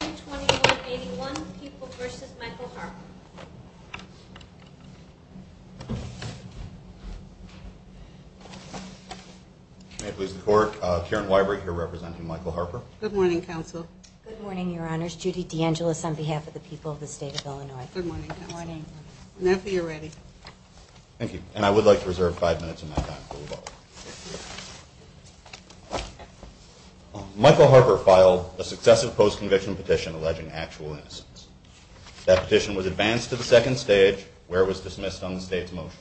2181 People v. Michael Harper May it please the Court, Karen Weiberg here representing Michael Harper. Good morning, Counsel. Good morning, Your Honors. Judy DeAngelis on behalf of the people of the State of Illinois. Good morning, Counsel. Good morning. Now if you're ready. Thank you. And I would like to reserve five minutes of my time for rebuttal. Michael Harper filed a successive post-conviction petition alleging actual innocence. That petition was advanced to the second stage, where it was dismissed on the State's motion.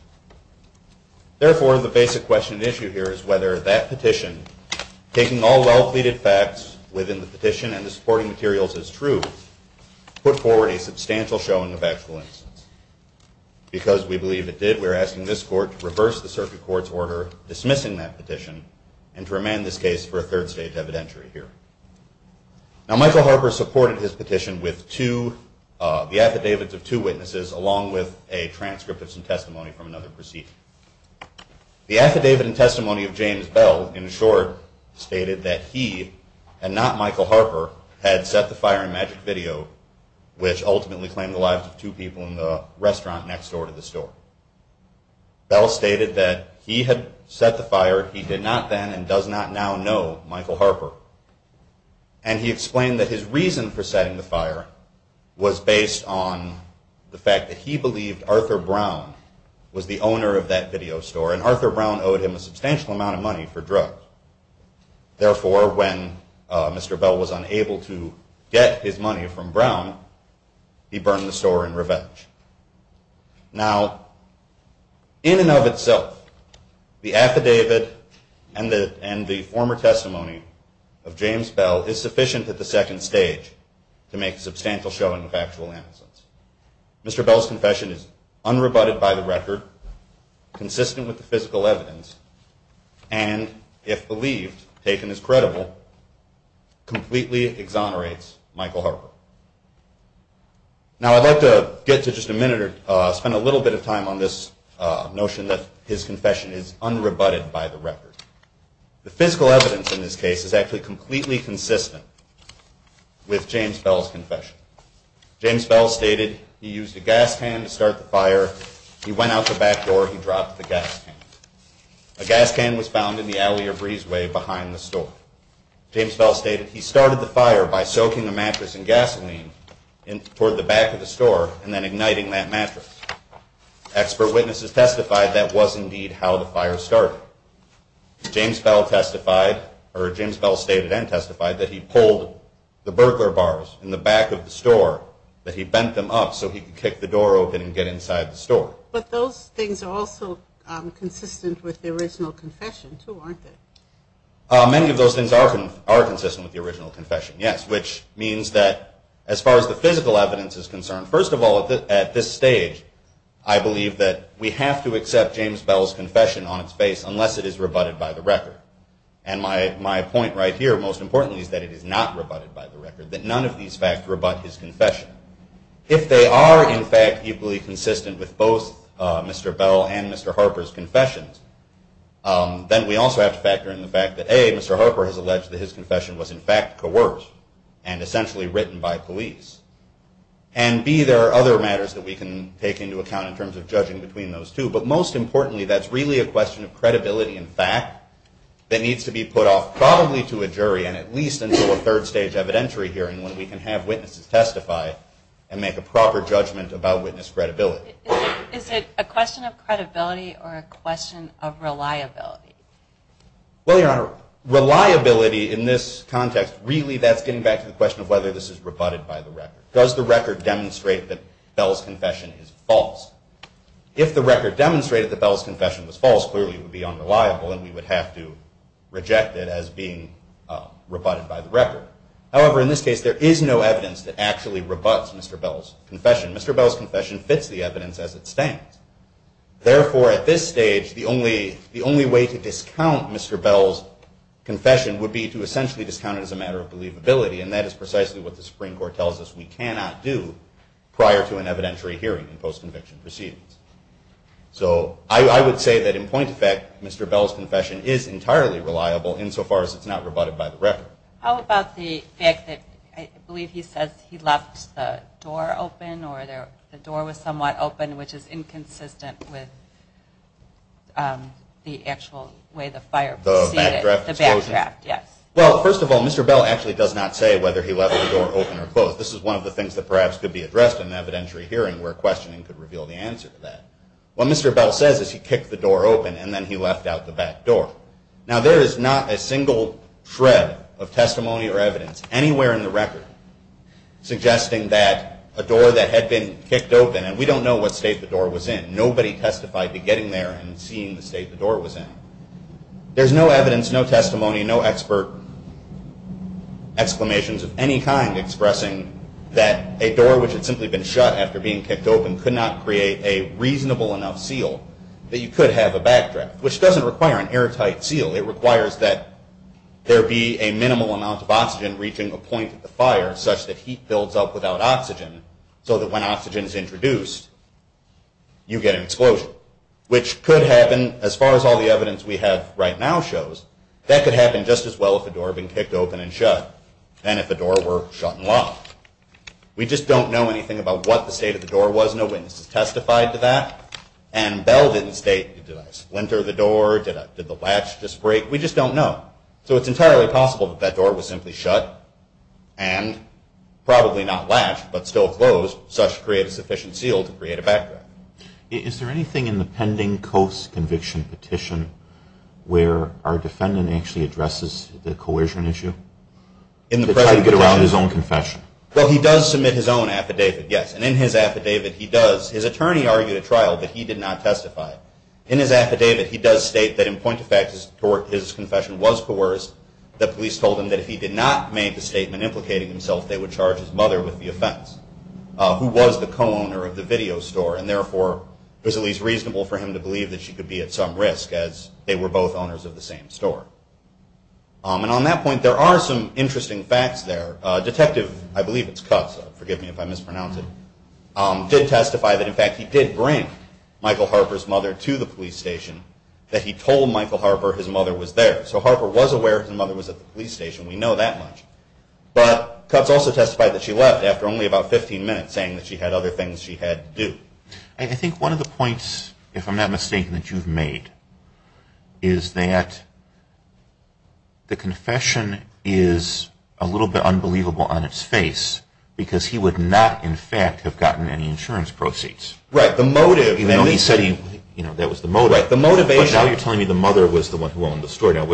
Therefore, the basic question at issue here is whether that petition, taking all well-pleaded facts within the petition and the supporting materials as true, put forward a substantial showing of actual innocence. Because we believe it did, we are asking this Court to reverse the circuit court's order dismissing that petition and to remand this case for a third stage evidentiary hearing. Now Michael Harper supported his petition with the affidavits of two witnesses along with a transcript of some testimony from another proceeding. The affidavit and testimony of James Bell, in short, stated that he, and not Michael Harper, had set the fire in Magic Video, which ultimately claimed the lives of two people in the restaurant next door to the store. Bell stated that he had set the fire, he did not then and does not now know Michael Harper. And he explained that his reason for setting the fire was based on the fact that he believed Arthur Brown was the owner of that video store, and Arthur Brown owed him a substantial amount of money for drugs. Therefore, when Mr. Bell was unable to get his money from Brown, he burned the store in revenge. Now, in and of itself, the affidavit and the former testimony of James Bell is sufficient at the second stage to make a substantial showing of actual innocence. Mr. Bell's confession is unrebutted by the record, consistent with the physical evidence, and, if believed, taken as credible, completely exonerates Michael Harper. Now, I'd like to get to just a minute or spend a little bit of time on this notion that his confession is unrebutted by the record. The physical evidence in this case is actually completely consistent with James Bell's confession. James Bell stated he used a gas can to start the fire. He went out the back door. He dropped the gas can. A gas can was found in the alley or breezeway behind the store. James Bell stated he started the fire by soaking a mattress in gasoline toward the back of the store and then igniting that mattress. Expert witnesses testified that was indeed how the fire started. James Bell testified, or James Bell stated and testified, that he pulled the burglar bars in the back of the store, that he bent them up so he could kick the door open and get inside the store. But those things are also consistent with the original confession, too, aren't they? Many of those things are consistent with the original confession, yes, which means that as far as the physical evidence is concerned, first of all, at this stage, I believe that we have to accept James Bell's confession on its face unless it is rebutted by the record. And my point right here, most importantly, is that it is not rebutted by the record, that none of these fact rebut his confession. If they are, in fact, equally consistent with both Mr. Bell and Mr. Harper's confessions, then we also have to factor in the fact that, A, Mr. Harper has alleged that his confession was, in fact, coerced and essentially written by police. And, B, there are other matters that we can take into account in terms of judging between those two. But most importantly, that's really a question of credibility and fact that needs to be put off probably to a jury and at least until a third stage evidentiary hearing when we can have witnesses testify and make a proper judgment about witness credibility. Is it a question of credibility or a question of reliability? Well, Your Honor, reliability in this context, really that's getting back to the question of whether this is rebutted by the record. Does the record demonstrate that Bell's confession is false? If the record demonstrated that Bell's confession was false, clearly it would be unreliable and we would have to reject it as being rebutted by the record. However, in this case, there is no evidence that actually rebuts Mr. Bell's confession. Mr. Bell's confession fits the evidence as it stands. Therefore, at this stage, the only way to discount Mr. Bell's confession would be to essentially discount it as a matter of believability, and that is precisely what the Supreme Court tells us we cannot do prior to an evidentiary hearing in post-conviction proceedings. So I would say that in point of fact, Mr. Bell's confession is entirely reliable insofar as it's not rebutted by the record. How about the fact that I believe he says he left the door open or the door was somewhat open, which is inconsistent with the actual way the fire proceeded? The backdraft? The backdraft, yes. Well, first of all, Mr. Bell actually does not say whether he left the door open or closed. This is one of the things that perhaps could be addressed in an evidentiary hearing where questioning could reveal the answer to that. What Mr. Bell says is he kicked the door open and then he left out the back door. Now, there is not a single shred of testimony or evidence anywhere in the record suggesting that a door that had been kicked open, and we don't know what state the door was in. Nobody testified to getting there and seeing the state the door was in. There's no evidence, no testimony, no expert exclamations of any kind expressing that a door which had simply been shut after being kicked open could not create a reasonable enough seal that you could have a backdraft, which doesn't require an airtight seal. It requires that there be a minimal amount of oxygen reaching a point of the fire such that heat builds up without oxygen so that when oxygen is introduced, you get an explosion, which could happen, as far as all the evidence we have right now shows, that could happen just as well if a door had been kicked open and shut than if a door were shut and locked. We just don't know anything about what the state of the door was. No witnesses testified to that. And Bell didn't state, did I splinter the door? Did the latch just break? We just don't know. So it's entirely possible that that door was simply shut and probably not latched but still closed, such to create a sufficient seal to create a backdraft. Is there anything in the pending Coase conviction petition where our defendant actually addresses the coercion issue? In the president's own confession. Well, he does submit his own affidavit, yes. And in his affidavit, he does. His attorney argued at trial that he did not testify. In his affidavit, he does state that in point of fact his confession was coerced, that police told him that if he did not make the statement implicating himself, they would charge his mother with the offense, who was the co-owner of the video store, and therefore it was at least reasonable for him to believe that she could be at some risk, as they were both owners of the same store. And on that point, there are some interesting facts there. Detective, I believe it's Cutts, forgive me if I mispronounce it, did testify that in fact he did bring Michael Harper's mother to the police station, that he told Michael Harper his mother was there. So Harper was aware his mother was at the police station. We know that much. But Cutts also testified that she left after only about 15 minutes, saying that she had other things she had to do. I think one of the points, if I'm not mistaken, that you've made, is that the confession is a little bit unbelievable on its face, because he would not in fact have gotten any insurance proceeds. Right, the motive. Even though he said that was the motive. Right, the motivation. But now you're telling me the mother was the one who owned the store. No,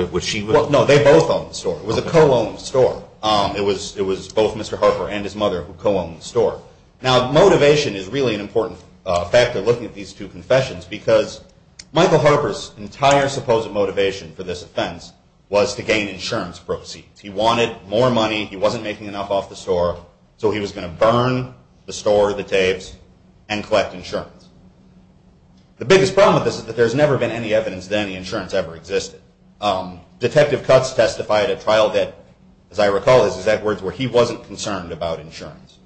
they both owned the store. It was a co-owned store. It was both Mr. Harper and his mother who co-owned the store. Now motivation is really an important factor looking at these two confessions, because Michael Harper's entire supposed motivation for this offense was to gain insurance proceeds. He wanted more money. He wasn't making enough off the store, so he was going to burn the store, the tapes, and collect insurance. The biggest problem with this is that there's never been any evidence that any insurance ever existed. Detective Cutts testified at trial that, as I recall, this is Edwards, where he wasn't concerned about insurance.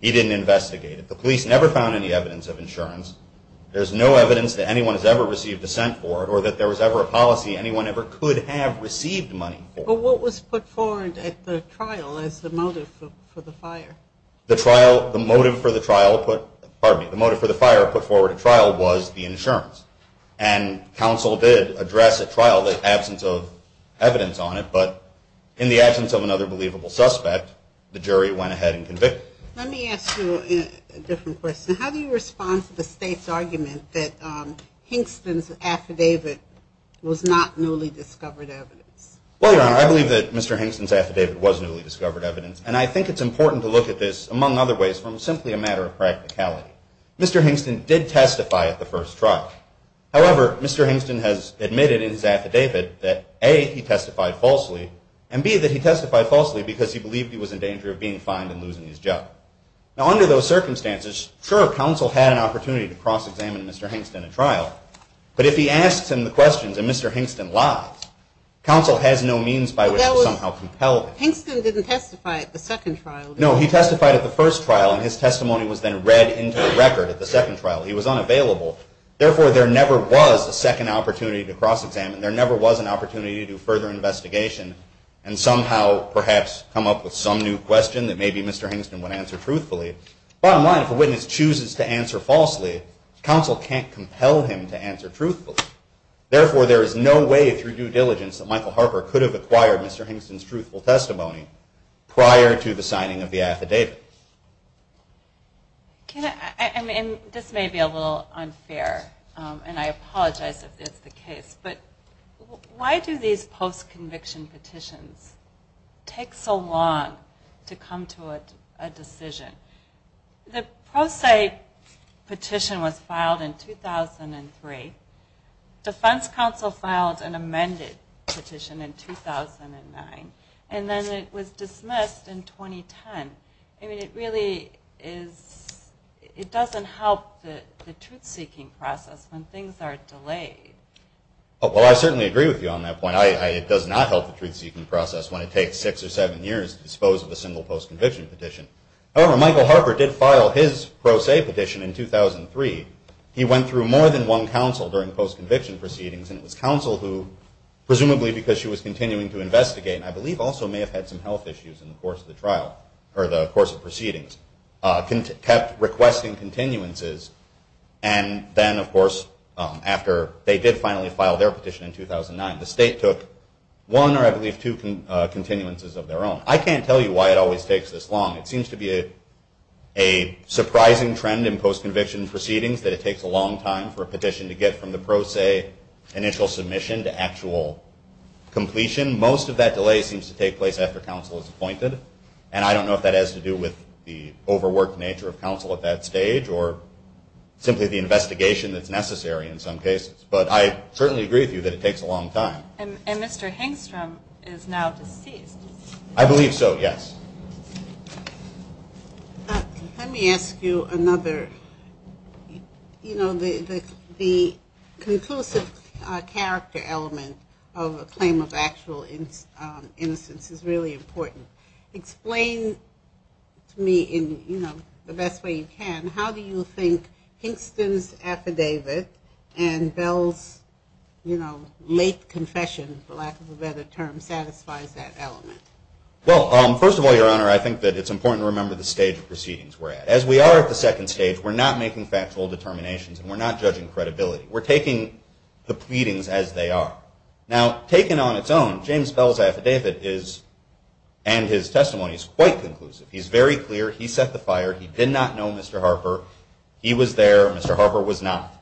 He didn't investigate it. The police never found any evidence of insurance. There's no evidence that anyone has ever received assent for it or that there was ever a policy anyone ever could have received money for. But what was put forward at the trial as the motive for the fire? The trial, the motive for the trial, pardon me, the motive for the fire put forward at trial was the insurance. And counsel did address at trial the absence of evidence on it, but in the absence of another believable suspect, the jury went ahead and convicted him. Let me ask you a different question. How do you respond to the state's argument that Hingston's affidavit was not newly discovered evidence? Well, Your Honor, I believe that Mr. Hingston's affidavit was newly discovered evidence, and I think it's important to look at this, among other ways, from simply a matter of practicality. Mr. Hingston did testify at the first trial. However, Mr. Hingston has admitted in his affidavit that, A, he testified falsely, and B, that he testified falsely because he believed he was in danger of being fined and losing his job. Now, under those circumstances, sure, counsel had an opportunity to cross-examine Mr. Hingston at trial, but if he asks him the questions and Mr. Hingston lies, counsel has no means by which to somehow compel him. Hingston didn't testify at the second trial, did he? No, he testified at the first trial, and his testimony was then read into the record at the second trial. He was unavailable. Therefore, there never was a second opportunity to cross-examine. There never was an opportunity to do further investigation and somehow perhaps come up with some new question that maybe Mr. Hingston would answer truthfully. Bottom line, if a witness chooses to answer falsely, counsel can't compel him to answer truthfully. Therefore, there is no way through due diligence that Michael Harper could have acquired Mr. Hingston's truthful testimony prior to the signing of the affidavit. This may be a little unfair, and I apologize if it's the case, but why do these post-conviction petitions take so long to come to a decision? The pro se petition was filed in 2003. Defense counsel filed an amended petition in 2009, and then it was dismissed in 2010. I mean, it doesn't help the truth-seeking process when things are delayed. Well, I certainly agree with you on that point. It does not help the truth-seeking process when it takes six or seven years to dispose of a single post-conviction petition. However, Michael Harper did file his pro se petition in 2003. He went through more than one counsel during post-conviction proceedings, and it was counsel who, presumably because she was continuing to investigate, and I believe also may have had some health issues in the course of the trial or the course of proceedings, kept requesting continuances. And then, of course, after they did finally file their petition in 2009, the state took one or, I believe, two continuances of their own. I can't tell you why it always takes this long. It seems to be a surprising trend in post-conviction proceedings that it takes a long time for a petition to get from the pro se initial submission to actual completion. Most of that delay seems to take place after counsel is appointed, and I don't know if that has to do with the overworked nature of counsel at that stage or simply the investigation that's necessary in some cases. But I certainly agree with you that it takes a long time. And Mr. Hengstrom is now deceased. I believe so, yes. Let me ask you another. You know, the conclusive character element of a claim of actual innocence is really important. Explain to me, in the best way you can, how do you think Hengstrom's affidavit and Bell's late confession, for lack of a better term, satisfies that element? Well, first of all, Your Honor, I think that it's important to remember the stage of proceedings we're at. As we are at the second stage, we're not making factual determinations and we're not judging credibility. We're taking the pleadings as they are. Now, taken on its own, James Bell's affidavit and his testimony is quite conclusive. He's very clear. He set the fire. He did not know Mr. Harper. He was there. Mr. Harper was not.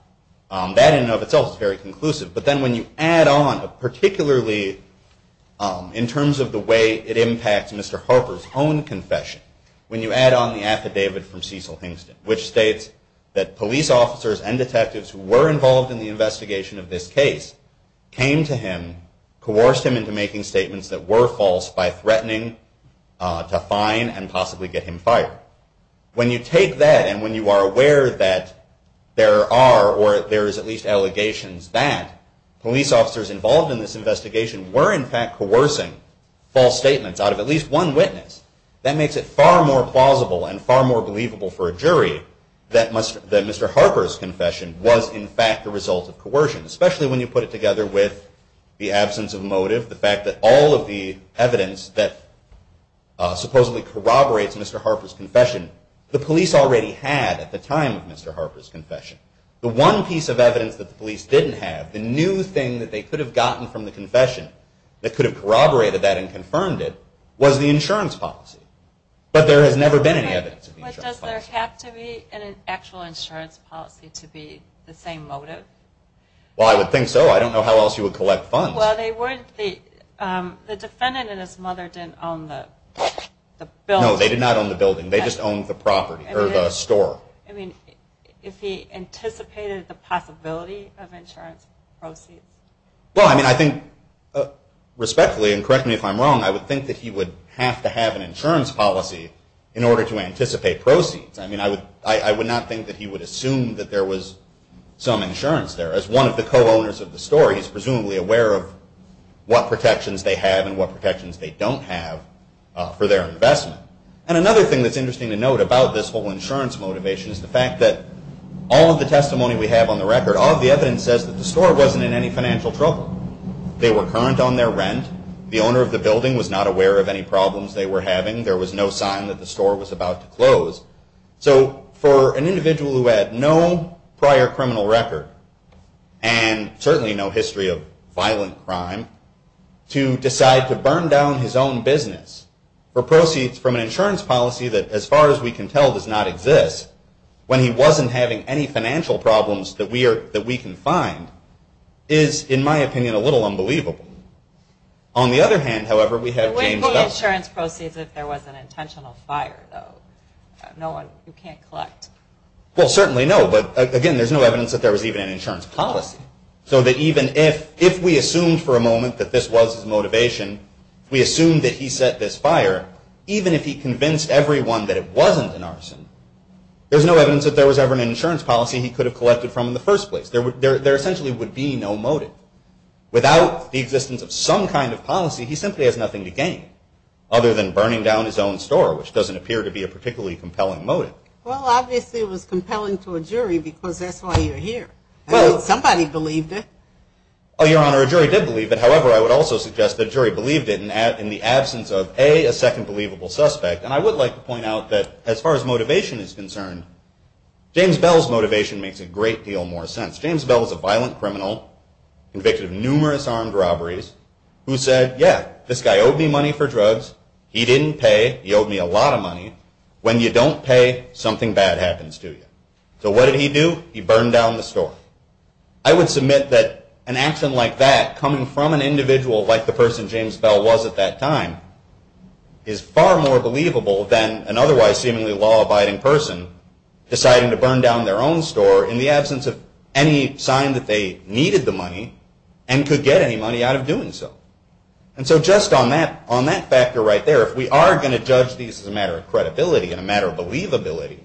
That in and of itself is very conclusive. But then when you add on, particularly in terms of the way it impacts Mr. Harper's own confession, when you add on the affidavit from Cecil Hengstrom, which states that police officers and detectives who were involved in the investigation of this case came to him, coerced him into making statements that were false by threatening to fine and possibly get him fired. When you take that and when you are aware that there are, or there is at least allegations that police officers involved in this investigation were in fact coercing false statements out of at least one witness, that makes it far more plausible and far more believable for a jury that Mr. Harper's confession was in fact the result of coercion, especially when you put it together with the absence of motive, the fact that all of the evidence that supposedly corroborates Mr. Harper's confession, the one piece of evidence that the police didn't have, the new thing that they could have gotten from the confession that could have corroborated that and confirmed it, was the insurance policy. But there has never been any evidence of the insurance policy. But does there have to be an actual insurance policy to be the same motive? Well, I would think so. I don't know how else you would collect funds. Well, the defendant and his mother didn't own the building. No, they did not own the building. They just owned the property, or the store. I mean, if he anticipated the possibility of insurance proceeds? Well, I mean, I think, respectfully, and correct me if I'm wrong, I would think that he would have to have an insurance policy in order to anticipate proceeds. I mean, I would not think that he would assume that there was some insurance there. As one of the co-owners of the store, he's presumably aware of what protections they have and what protections they don't have for their investment. And another thing that's interesting to note about this whole insurance motivation is the fact that all of the testimony we have on the record, all of the evidence says that the store wasn't in any financial trouble. They were current on their rent. The owner of the building was not aware of any problems they were having. There was no sign that the store was about to close. So for an individual who had no prior criminal record, and certainly no history of violent crime, to decide to burn down his own business for proceeds from an insurance policy that, as far as we can tell, does not exist, when he wasn't having any financial problems that we can find, is, in my opinion, a little unbelievable. On the other hand, however, we have James Bell. But what about the insurance proceeds if there was an intentional fire, though? You can't collect. Well, certainly no. But, again, there's no evidence that there was even an insurance policy. So that even if we assumed for a moment that this was his motivation, we assumed that he set this fire, even if he convinced everyone that it wasn't an arson, there's no evidence that there was ever an insurance policy he could have collected from in the first place. There essentially would be no motive. Without the existence of some kind of policy, he simply has nothing to gain, other than burning down his own store, which doesn't appear to be a particularly compelling motive. Well, obviously it was compelling to a jury because that's why you're here. Well, somebody believed it. Oh, Your Honor, a jury did believe it. However, I would also suggest that a jury believed it in the absence of, A, a second believable suspect. And I would like to point out that, as far as motivation is concerned, James Bell's motivation makes a great deal more sense. James Bell is a violent criminal, convicted of numerous armed robberies, who said, yeah, this guy owed me money for drugs. He didn't pay. He owed me a lot of money. When you don't pay, something bad happens to you. So what did he do? He burned down the store. I would submit that an action like that, coming from an individual like the person James Bell was at that time, is far more believable than an otherwise seemingly law-abiding person deciding to burn down their own store in the absence of any sign that they needed the money and could get any money out of doing so. And so just on that factor right there, if we are going to judge these as a matter of credibility and a matter of believability,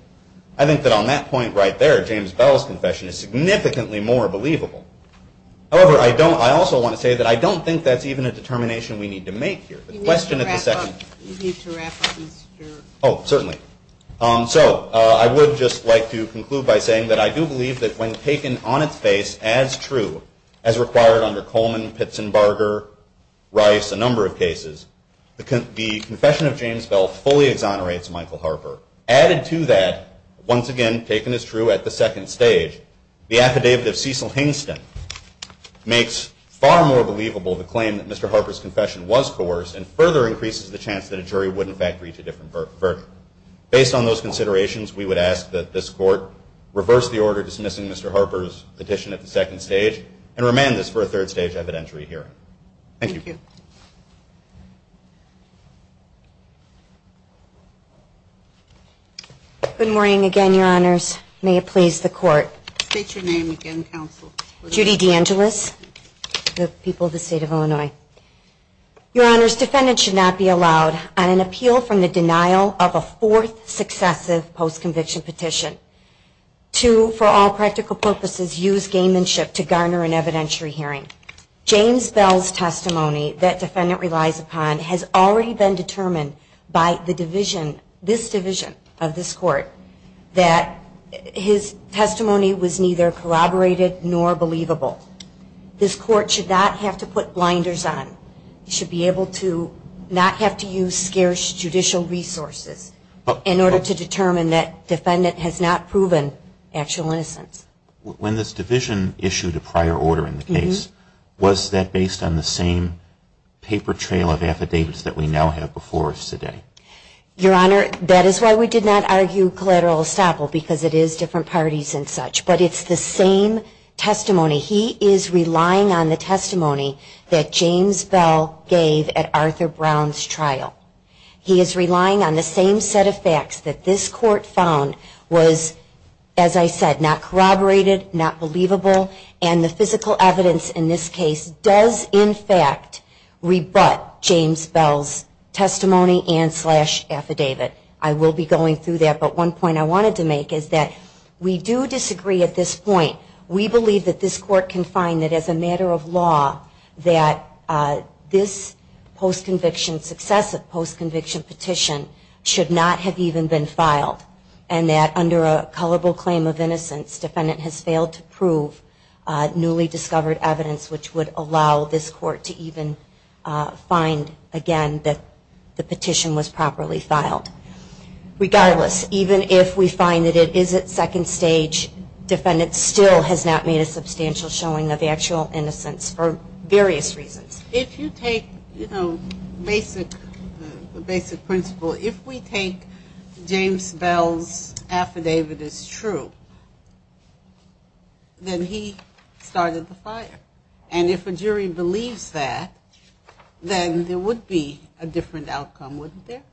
I think that on that point right there, James Bell's confession is significantly more believable. However, I also want to say that I don't think that's even a determination we need to make here. You need to wrap up. Oh, certainly. So I would just like to conclude by saying that I do believe that when taken on its face as true, as required under Coleman, Pitsenbarger, Rice, a number of cases, the confession of James Bell fully exonerates Michael Harper. Added to that, once again, taken as true at the second stage, the affidavit of Cecil Hingston makes far more believable the claim that Mr. Harper's confession was coerced and further increases the chance that a jury would, in fact, reach a different verdict. Based on those considerations, we would ask that this Court reverse the order dismissing Mr. Harper's petition at the second stage and remand this for a third stage evidentiary hearing. Thank you. Good morning again, Your Honors. May it please the Court. State your name again, Counsel. Judy DeAngelis, the people of the State of Illinois. Your Honors, defendants should not be allowed on an appeal from the denial of a fourth successive post-conviction petition to, for all practical purposes, use gamemanship to garner an evidentiary hearing. James Bell's testimony that defendant relies upon has already been determined by this division of this Court that his testimony was neither corroborated nor believable. This Court should not have to put blinders on. It should be able to not have to use scarce judicial resources in order to determine that defendant has not proven actual innocence. When this division issued a prior order in the case, was that based on the same paper trail of affidavits that we now have before us today? Your Honor, that is why we did not argue collateral estoppel, because it is different parties and such. But it's the same testimony. He is relying on the testimony that James Bell gave at Arthur Brown's trial. He is relying on the same set of facts that this Court found was, as I said, not corroborated, not believable, and the physical evidence in this case does, in fact, rebut James Bell's testimony and slash affidavit. I will be going through that, but one point I wanted to make is that we do disagree at this point. We believe that this Court can find that, as a matter of law, that this post-conviction, successive post-conviction petition should not have even been filed, and that under a culpable claim of innocence, defendant has failed to prove newly discovered evidence, which would allow this Court to even find, again, that the petition was properly filed. Regardless, even if we find that it is at second stage, defendant still has not made a substantial showing of actual innocence for various reasons. If you take, you know, basic principle, if we take James Bell's affidavit as true, then he started the fire. And if a jury believes that, then there would be a different outcome, wouldn't there?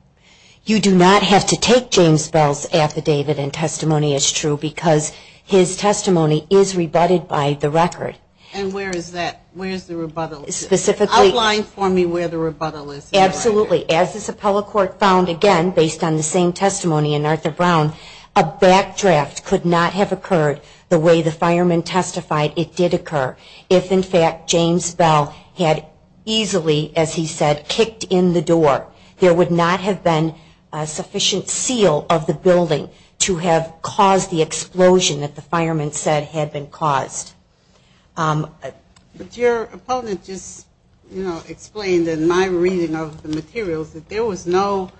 You do not have to take James Bell's affidavit and testimony as true because his testimony is rebutted by the record. And where is that? Where is the rebuttal? Specifically. Outline for me where the rebuttal is. Absolutely. As this appellate court found, again, based on the same testimony in Arthur Brown, a backdraft could not have occurred the way the fireman testified it did occur. If, in fact, James Bell had easily, as he said, kicked in the door, there would not have been a sufficient seal of the building to have caused the explosion that the fireman said had been caused. But your opponent just explained in my reading of the materials that there was no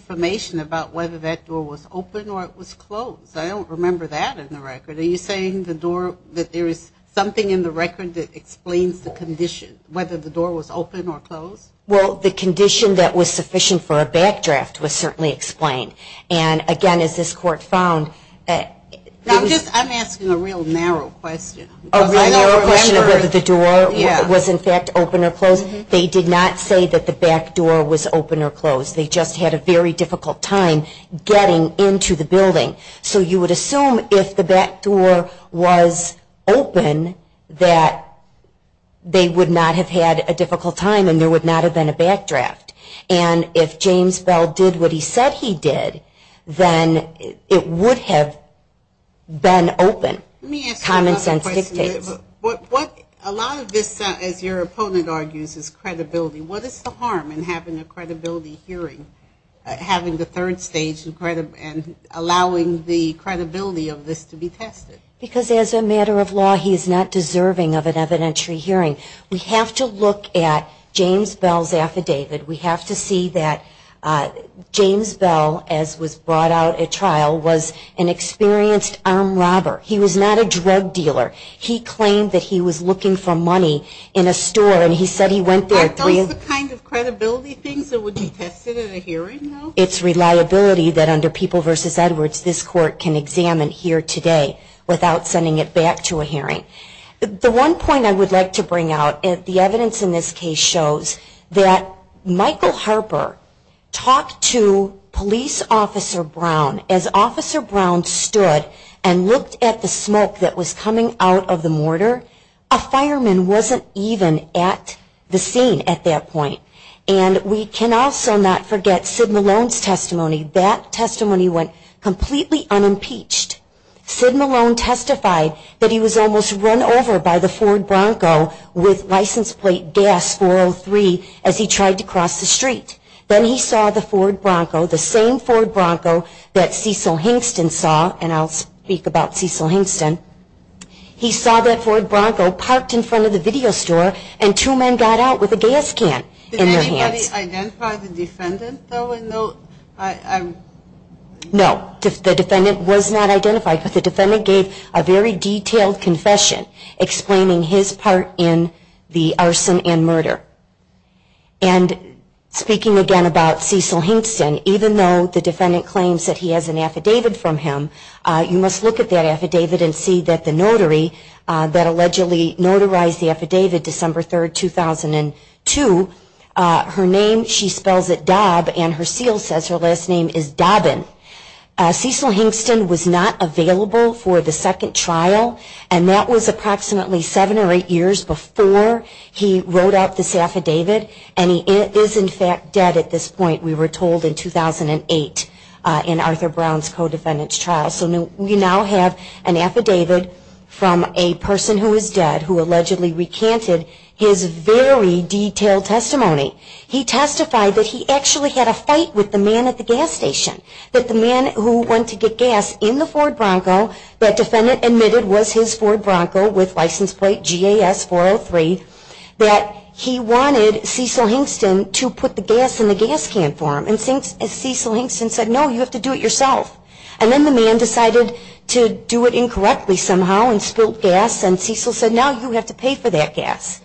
information about whether that door was open or it was closed. I don't remember that in the record. Are you saying that there is something in the record that explains the condition, whether the door was open or closed? Well, the condition that was sufficient for a backdraft was certainly explained. And, again, as this court found. I'm asking a real narrow question. A real narrow question of whether the door was, in fact, open or closed. They did not say that the back door was open or closed. They just had a very difficult time getting into the building. So you would assume if the back door was open that they would not have had a difficult time and there would not have been a backdraft. And if James Bell did what he said he did, then it would have been open. Common sense dictates. Let me ask you another question. A lot of this, as your opponent argues, is credibility. What is the harm in having a credibility hearing, having the third stage and allowing the credibility of this to be tested? Because as a matter of law, he is not deserving of an evidentiary hearing. We have to look at James Bell's affidavit. We have to see that James Bell, as was brought out at trial, was an experienced armed robber. He was not a drug dealer. He claimed that he was looking for money in a store and he said he went there. Are those the kind of credibility things that would be tested in a hearing? It's reliability that under People v. Edwards this court can examine here today without sending it back to a hearing. The one point I would like to bring out, the evidence in this case shows that Michael Harper talked to police officer Brown. As officer Brown stood and looked at the smoke that was coming out of the mortar, a fireman wasn't even at the scene at that point. And we can also not forget Sid Malone's testimony. That testimony went completely unimpeached. Sid Malone testified that he was almost run over by the Ford Bronco with license plate gas 403 as he tried to cross the street. Then he saw the Ford Bronco, the same Ford Bronco that Cecil Hingston saw, and I'll speak about Cecil Hingston. He saw that Ford Bronco parked in front of the video store and two men got out with a gas can in their hands. Did anybody identify the defendant though? No. The defendant was not identified, but the defendant gave a very detailed confession explaining his part in the arson and murder. And speaking again about Cecil Hingston, even though the defendant claims that he has an affidavit from him, you must look at that affidavit and see that the notary that allegedly notarized the affidavit in December 3, 2002, her name, she spells it Dob, and her seal says her last name is Dobbin. Cecil Hingston was not available for the second trial, and that was approximately seven or eight years before he wrote out this affidavit, and he is in fact dead at this point, we were told, in 2008 in Arthur Brown's co-defendant's trial. So we now have an affidavit from a person who is dead who allegedly recanted his very detailed testimony. He testified that he actually had a fight with the man at the gas station, that the man who went to get gas in the Ford Bronco, that defendant admitted was his Ford Bronco with license plate GAS403, that he wanted Cecil Hingston to put the gas in the gas can for him. And Cecil Hingston said, no, you have to do it yourself. And then the man decided to do it incorrectly somehow and spilled gas, and Cecil said, now you have to pay for that gas.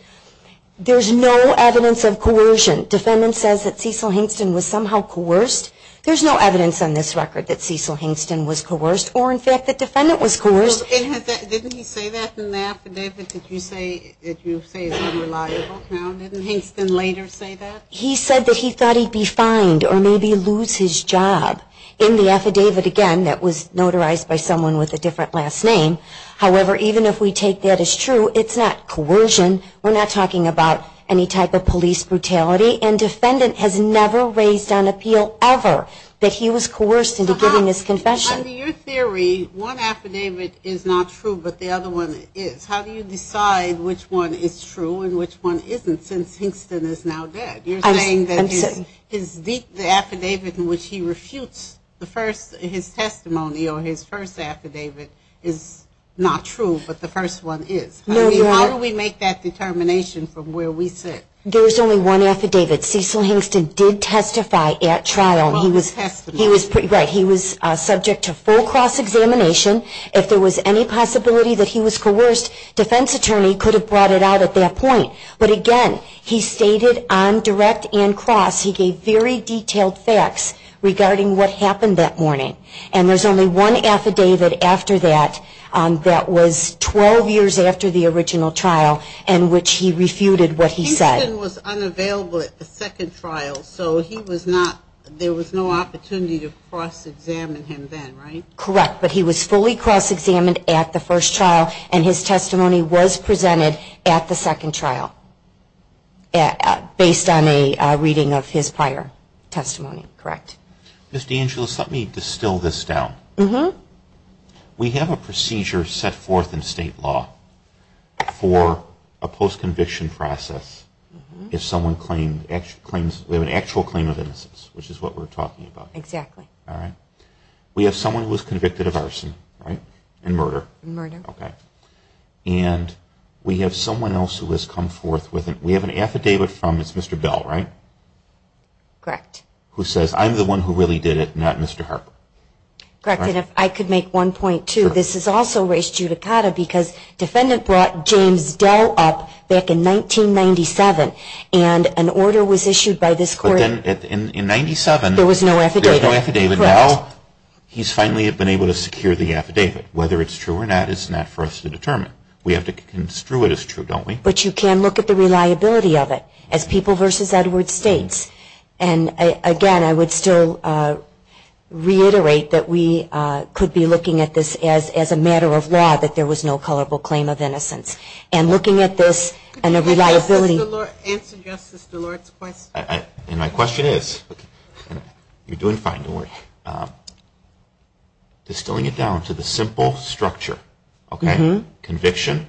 There's no evidence of coercion. Defendant says that Cecil Hingston was somehow coerced. There's no evidence on this record that Cecil Hingston was coerced, or in fact that defendant was coerced. Didn't he say that in the affidavit that you say is unreliable? Didn't Hingston later say that? He said that he thought he'd be fined or maybe lose his job. In the affidavit, again, that was notarized by someone with a different last name. However, even if we take that as true, it's not coercion. We're not talking about any type of police brutality, and defendant has never raised on appeal ever that he was coerced into giving this confession. So how, under your theory, one affidavit is not true, but the other one is. How do you decide which one is true and which one isn't, since Hingston is now dead? You're saying that the affidavit in which he refutes his testimony or his first affidavit is not true, but the first one is. How do we make that determination from where we sit? There was only one affidavit. Cecil Hingston did testify at trial. He was subject to full cross-examination. If there was any possibility that he was coerced, defense attorney could have brought it out at that point. But again, he stated on direct and cross he gave very detailed facts regarding what happened that morning. And there's only one affidavit after that that was 12 years after the original trial in which he refuted what he said. Hingston was unavailable at the second trial, so there was no opportunity to cross-examine him then, right? Correct, but he was fully cross-examined at the first trial and his testimony was presented at the second trial, based on a reading of his prior testimony, correct. Ms. DeAngelis, let me distill this down. We have a procedure set forth in state law for a post-conviction process if someone claims an actual claim of innocence, which is what we're talking about. Exactly. We have someone who was convicted of arson, right, and murder. Murder. Okay. And we have someone else who has come forth with it. We have an affidavit from Mr. Bell, right? Correct. Who says, I'm the one who really did it, not Mr. Harper. Correct, and if I could make one point, too. This is also res judicata because defendant brought James Bell up back in 1997 and an order was issued by this court. There was no affidavit. There was no affidavit. Correct. Now he's finally been able to secure the affidavit. Whether it's true or not is not for us to determine. We have to construe it as true, don't we? But you can look at the reliability of it, as People v. Edwards states. And, again, I would still reiterate that we could be looking at this as a matter of law, that there was no culpable claim of innocence. And looking at this and the reliability. Answer Justice DeLort's question. And my question is, and you're doing fine, don't worry, distilling it down to the simple structure, okay, conviction,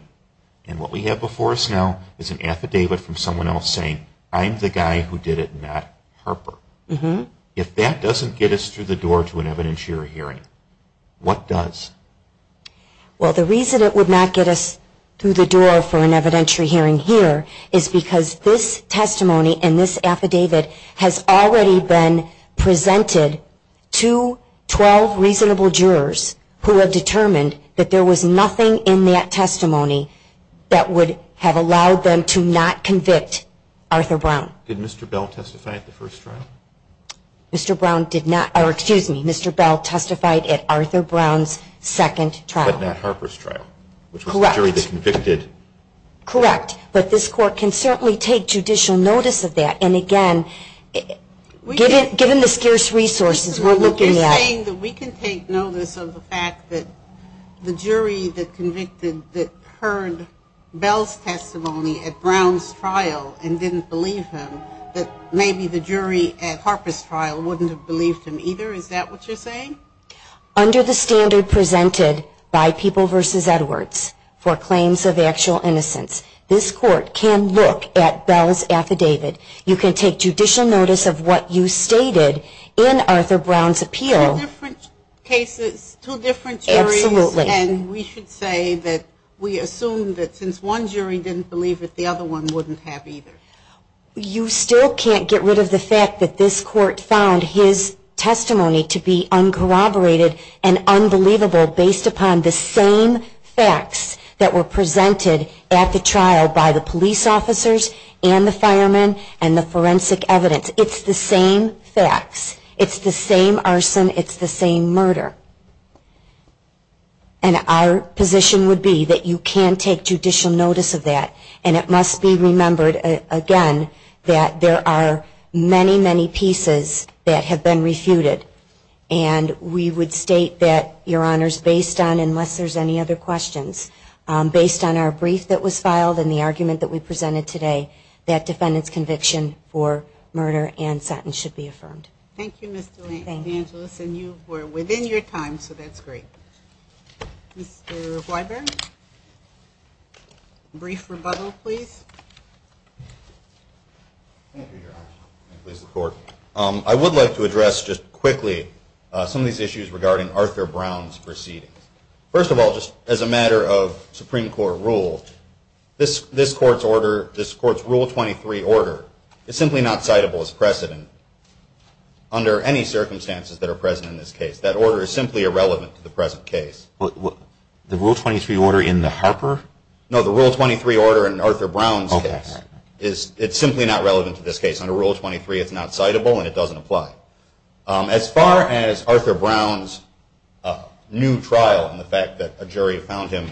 and what we have before us now is an affidavit from someone else saying, I'm the guy who did it, not Harper. If that doesn't get us through the door to an evidentiary hearing, what does? Well, the reason it would not get us through the door for an evidentiary hearing here is because this testimony and this affidavit has already been presented to 12 reasonable jurors who have determined that there was nothing in that testimony that would have allowed them to not convict Arthur Brown. Did Mr. Bell testify at the first trial? Mr. Brown did not, or excuse me, Mr. Bell testified at Arthur Brown's second trial. But not Harper's trial. Correct. Which was the jury that convicted. Correct. But this court can certainly take judicial notice of that. And, again, given the scarce resources we're looking at. You're saying that we can take notice of the fact that the jury that convicted, that heard Bell's testimony at Brown's trial and didn't believe him, that maybe the jury at Harper's trial wouldn't have believed him either? Is that what you're saying? Under the standard presented by People v. Edwards for claims of actual innocence, this court can look at Bell's affidavit. You can take judicial notice of what you stated in Arthur Brown's appeal. Two different cases, two different juries. Absolutely. And we should say that we assume that since one jury didn't believe it, the other one wouldn't have either. You still can't get rid of the fact that this court found his testimony to be uncorroborated and unbelievable based upon the same facts that were presented at the trial by the police officers and the firemen and the forensic evidence. It's the same facts. It's the same arson. It's the same murder. And our position would be that you can take judicial notice of that, and it must be remembered, again, that there are many, many pieces that have been refuted. And we would state that, Your Honors, based on, unless there's any other questions, based on our brief that was filed and the argument that we presented today, that defendant's conviction for murder and sentence should be affirmed. Thank you, Ms. DeAngelis. And you were within your time, so that's great. Mr. Weiber? Brief rebuttal, please. Thank you, Your Honor, and please, the Court. I would like to address just quickly some of these issues regarding Arthur Brown's proceedings. First of all, just as a matter of Supreme Court rule, this Court's order, this Court's Rule 23 order is simply not citable as precedent under any circumstances that are present in this case. That order is simply irrelevant to the present case. The Rule 23 order in the Harper? No, the Rule 23 order in Arthur Brown's case. It's simply not relevant to this case. Under Rule 23, it's not citable, and it doesn't apply. As far as Arthur Brown's new trial and the fact that a jury found him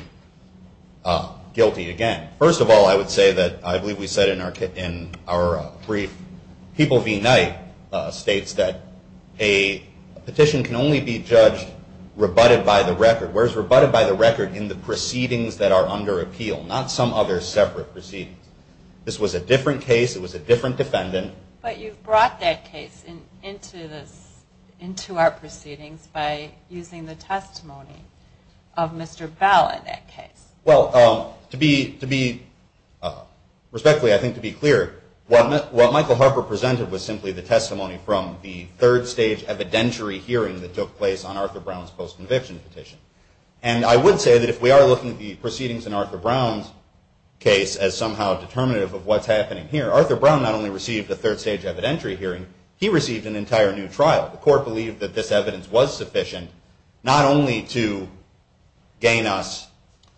guilty, again, first of all, I would say that I believe we said in our brief, People v. Knight states that a petition can only be judged rebutted by the record, whereas rebutted by the record in the proceedings that are under appeal, not some other separate proceedings. This was a different case. It was a different defendant. But you brought that case into our proceedings by using the testimony of Mr. Bell in that case. Well, to be respectfully, I think, to be clear, what Michael Harper presented was simply the testimony from the third-stage evidentiary hearing that took place on Arthur Brown's post-conviction petition. And I would say that if we are looking at the proceedings in Arthur Brown's case as somehow determinative of what's happening here, Arthur Brown not only received a third-stage evidentiary hearing, he received an entire new trial. The court believed that this evidence was sufficient not only to gain us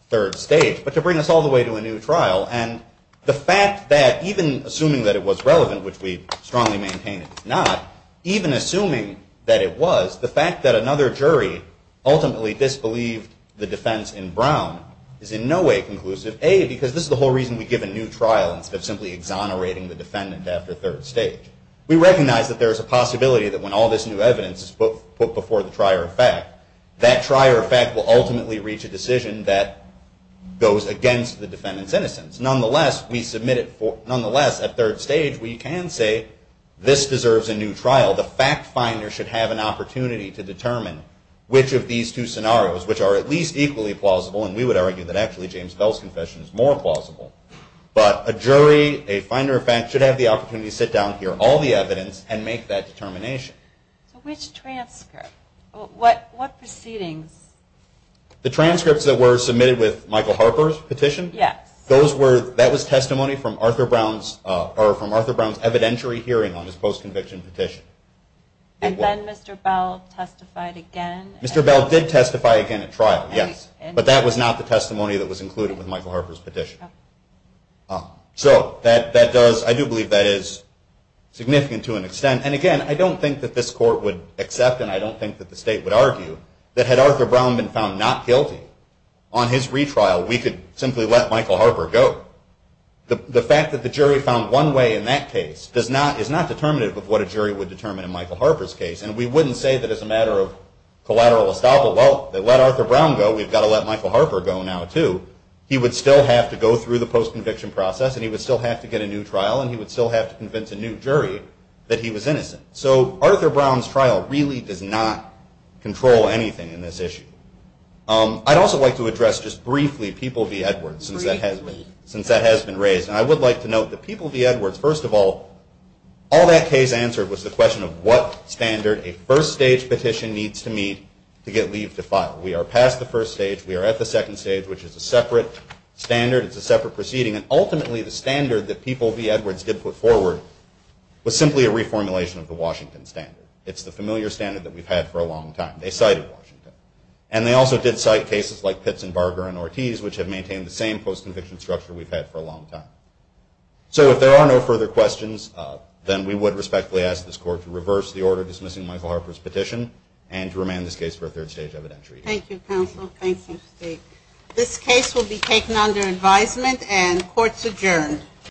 third stage, but to bring us all the way to a new trial. And the fact that even assuming that it was relevant, which we strongly maintain it's not, even assuming that it was, the fact that another jury ultimately disbelieved the defense in Brown is in no way conclusive, A, because this is the whole reason we give a new trial instead of simply exonerating the defendant after third stage. We recognize that there is a possibility that when all this new evidence is put before the trier of fact, that trier of fact will ultimately reach a decision that goes against the defendant's innocence. Nonetheless, at third stage, we can say this deserves a new trial. The fact finder should have an opportunity to determine which of these two scenarios, which are at least equally plausible, and we would argue that actually James Bell's confession is more plausible, but a jury, a finder of fact, should have the opportunity to sit down and hear all the evidence and make that determination. So which transcript? What proceedings? The transcripts that were submitted with Michael Harper's petition? Yes. That was testimony from Arthur Brown's evidentiary hearing on his post-conviction petition. And then Mr. Bell testified again? Mr. Bell did testify again at trial, yes. But that was not the testimony that was included with Michael Harper's petition. So that does, I do believe that is significant to an extent. And again, I don't think that this court would accept, and I don't think that the state would argue, that had Arthur Brown been found not guilty on his retrial, we could simply let Michael Harper go. The fact that the jury found one way in that case is not determinative of what a jury would determine in Michael Harper's case, and we wouldn't say that as a matter of collateral estoppel, well, let Arthur Brown go, we've got to let Michael Harper go now, too. He would still have to go through the post-conviction process, and he would still have to get a new trial, and he would still have to convince a new jury that he was innocent. So Arthur Brown's trial really does not control anything in this issue. I'd also like to address just briefly People v. Edwards, since that has been raised. And I would like to note that People v. Edwards, first of all, all that case answered was the question of what standard a first-stage petition needs to meet to get leave to file. We are past the first stage, we are at the second stage, which is a separate standard, it's a separate proceeding, and ultimately the standard that People v. Edwards did put forward was simply a reformulation of the Washington standard. It's the familiar standard that we've had for a long time. They cited Washington. And they also did cite cases like Pitts and Barger and Ortiz, which have maintained the same post-conviction structure we've had for a long time. So if there are no further questions, then we would respectfully ask this Court to reverse the order dismissing Michael Harper's petition and to remand this case for a third-stage evidentiary hearing. Thank you, counsel. Thank you, Steve. This case will be taken under advisement, and court is adjourned.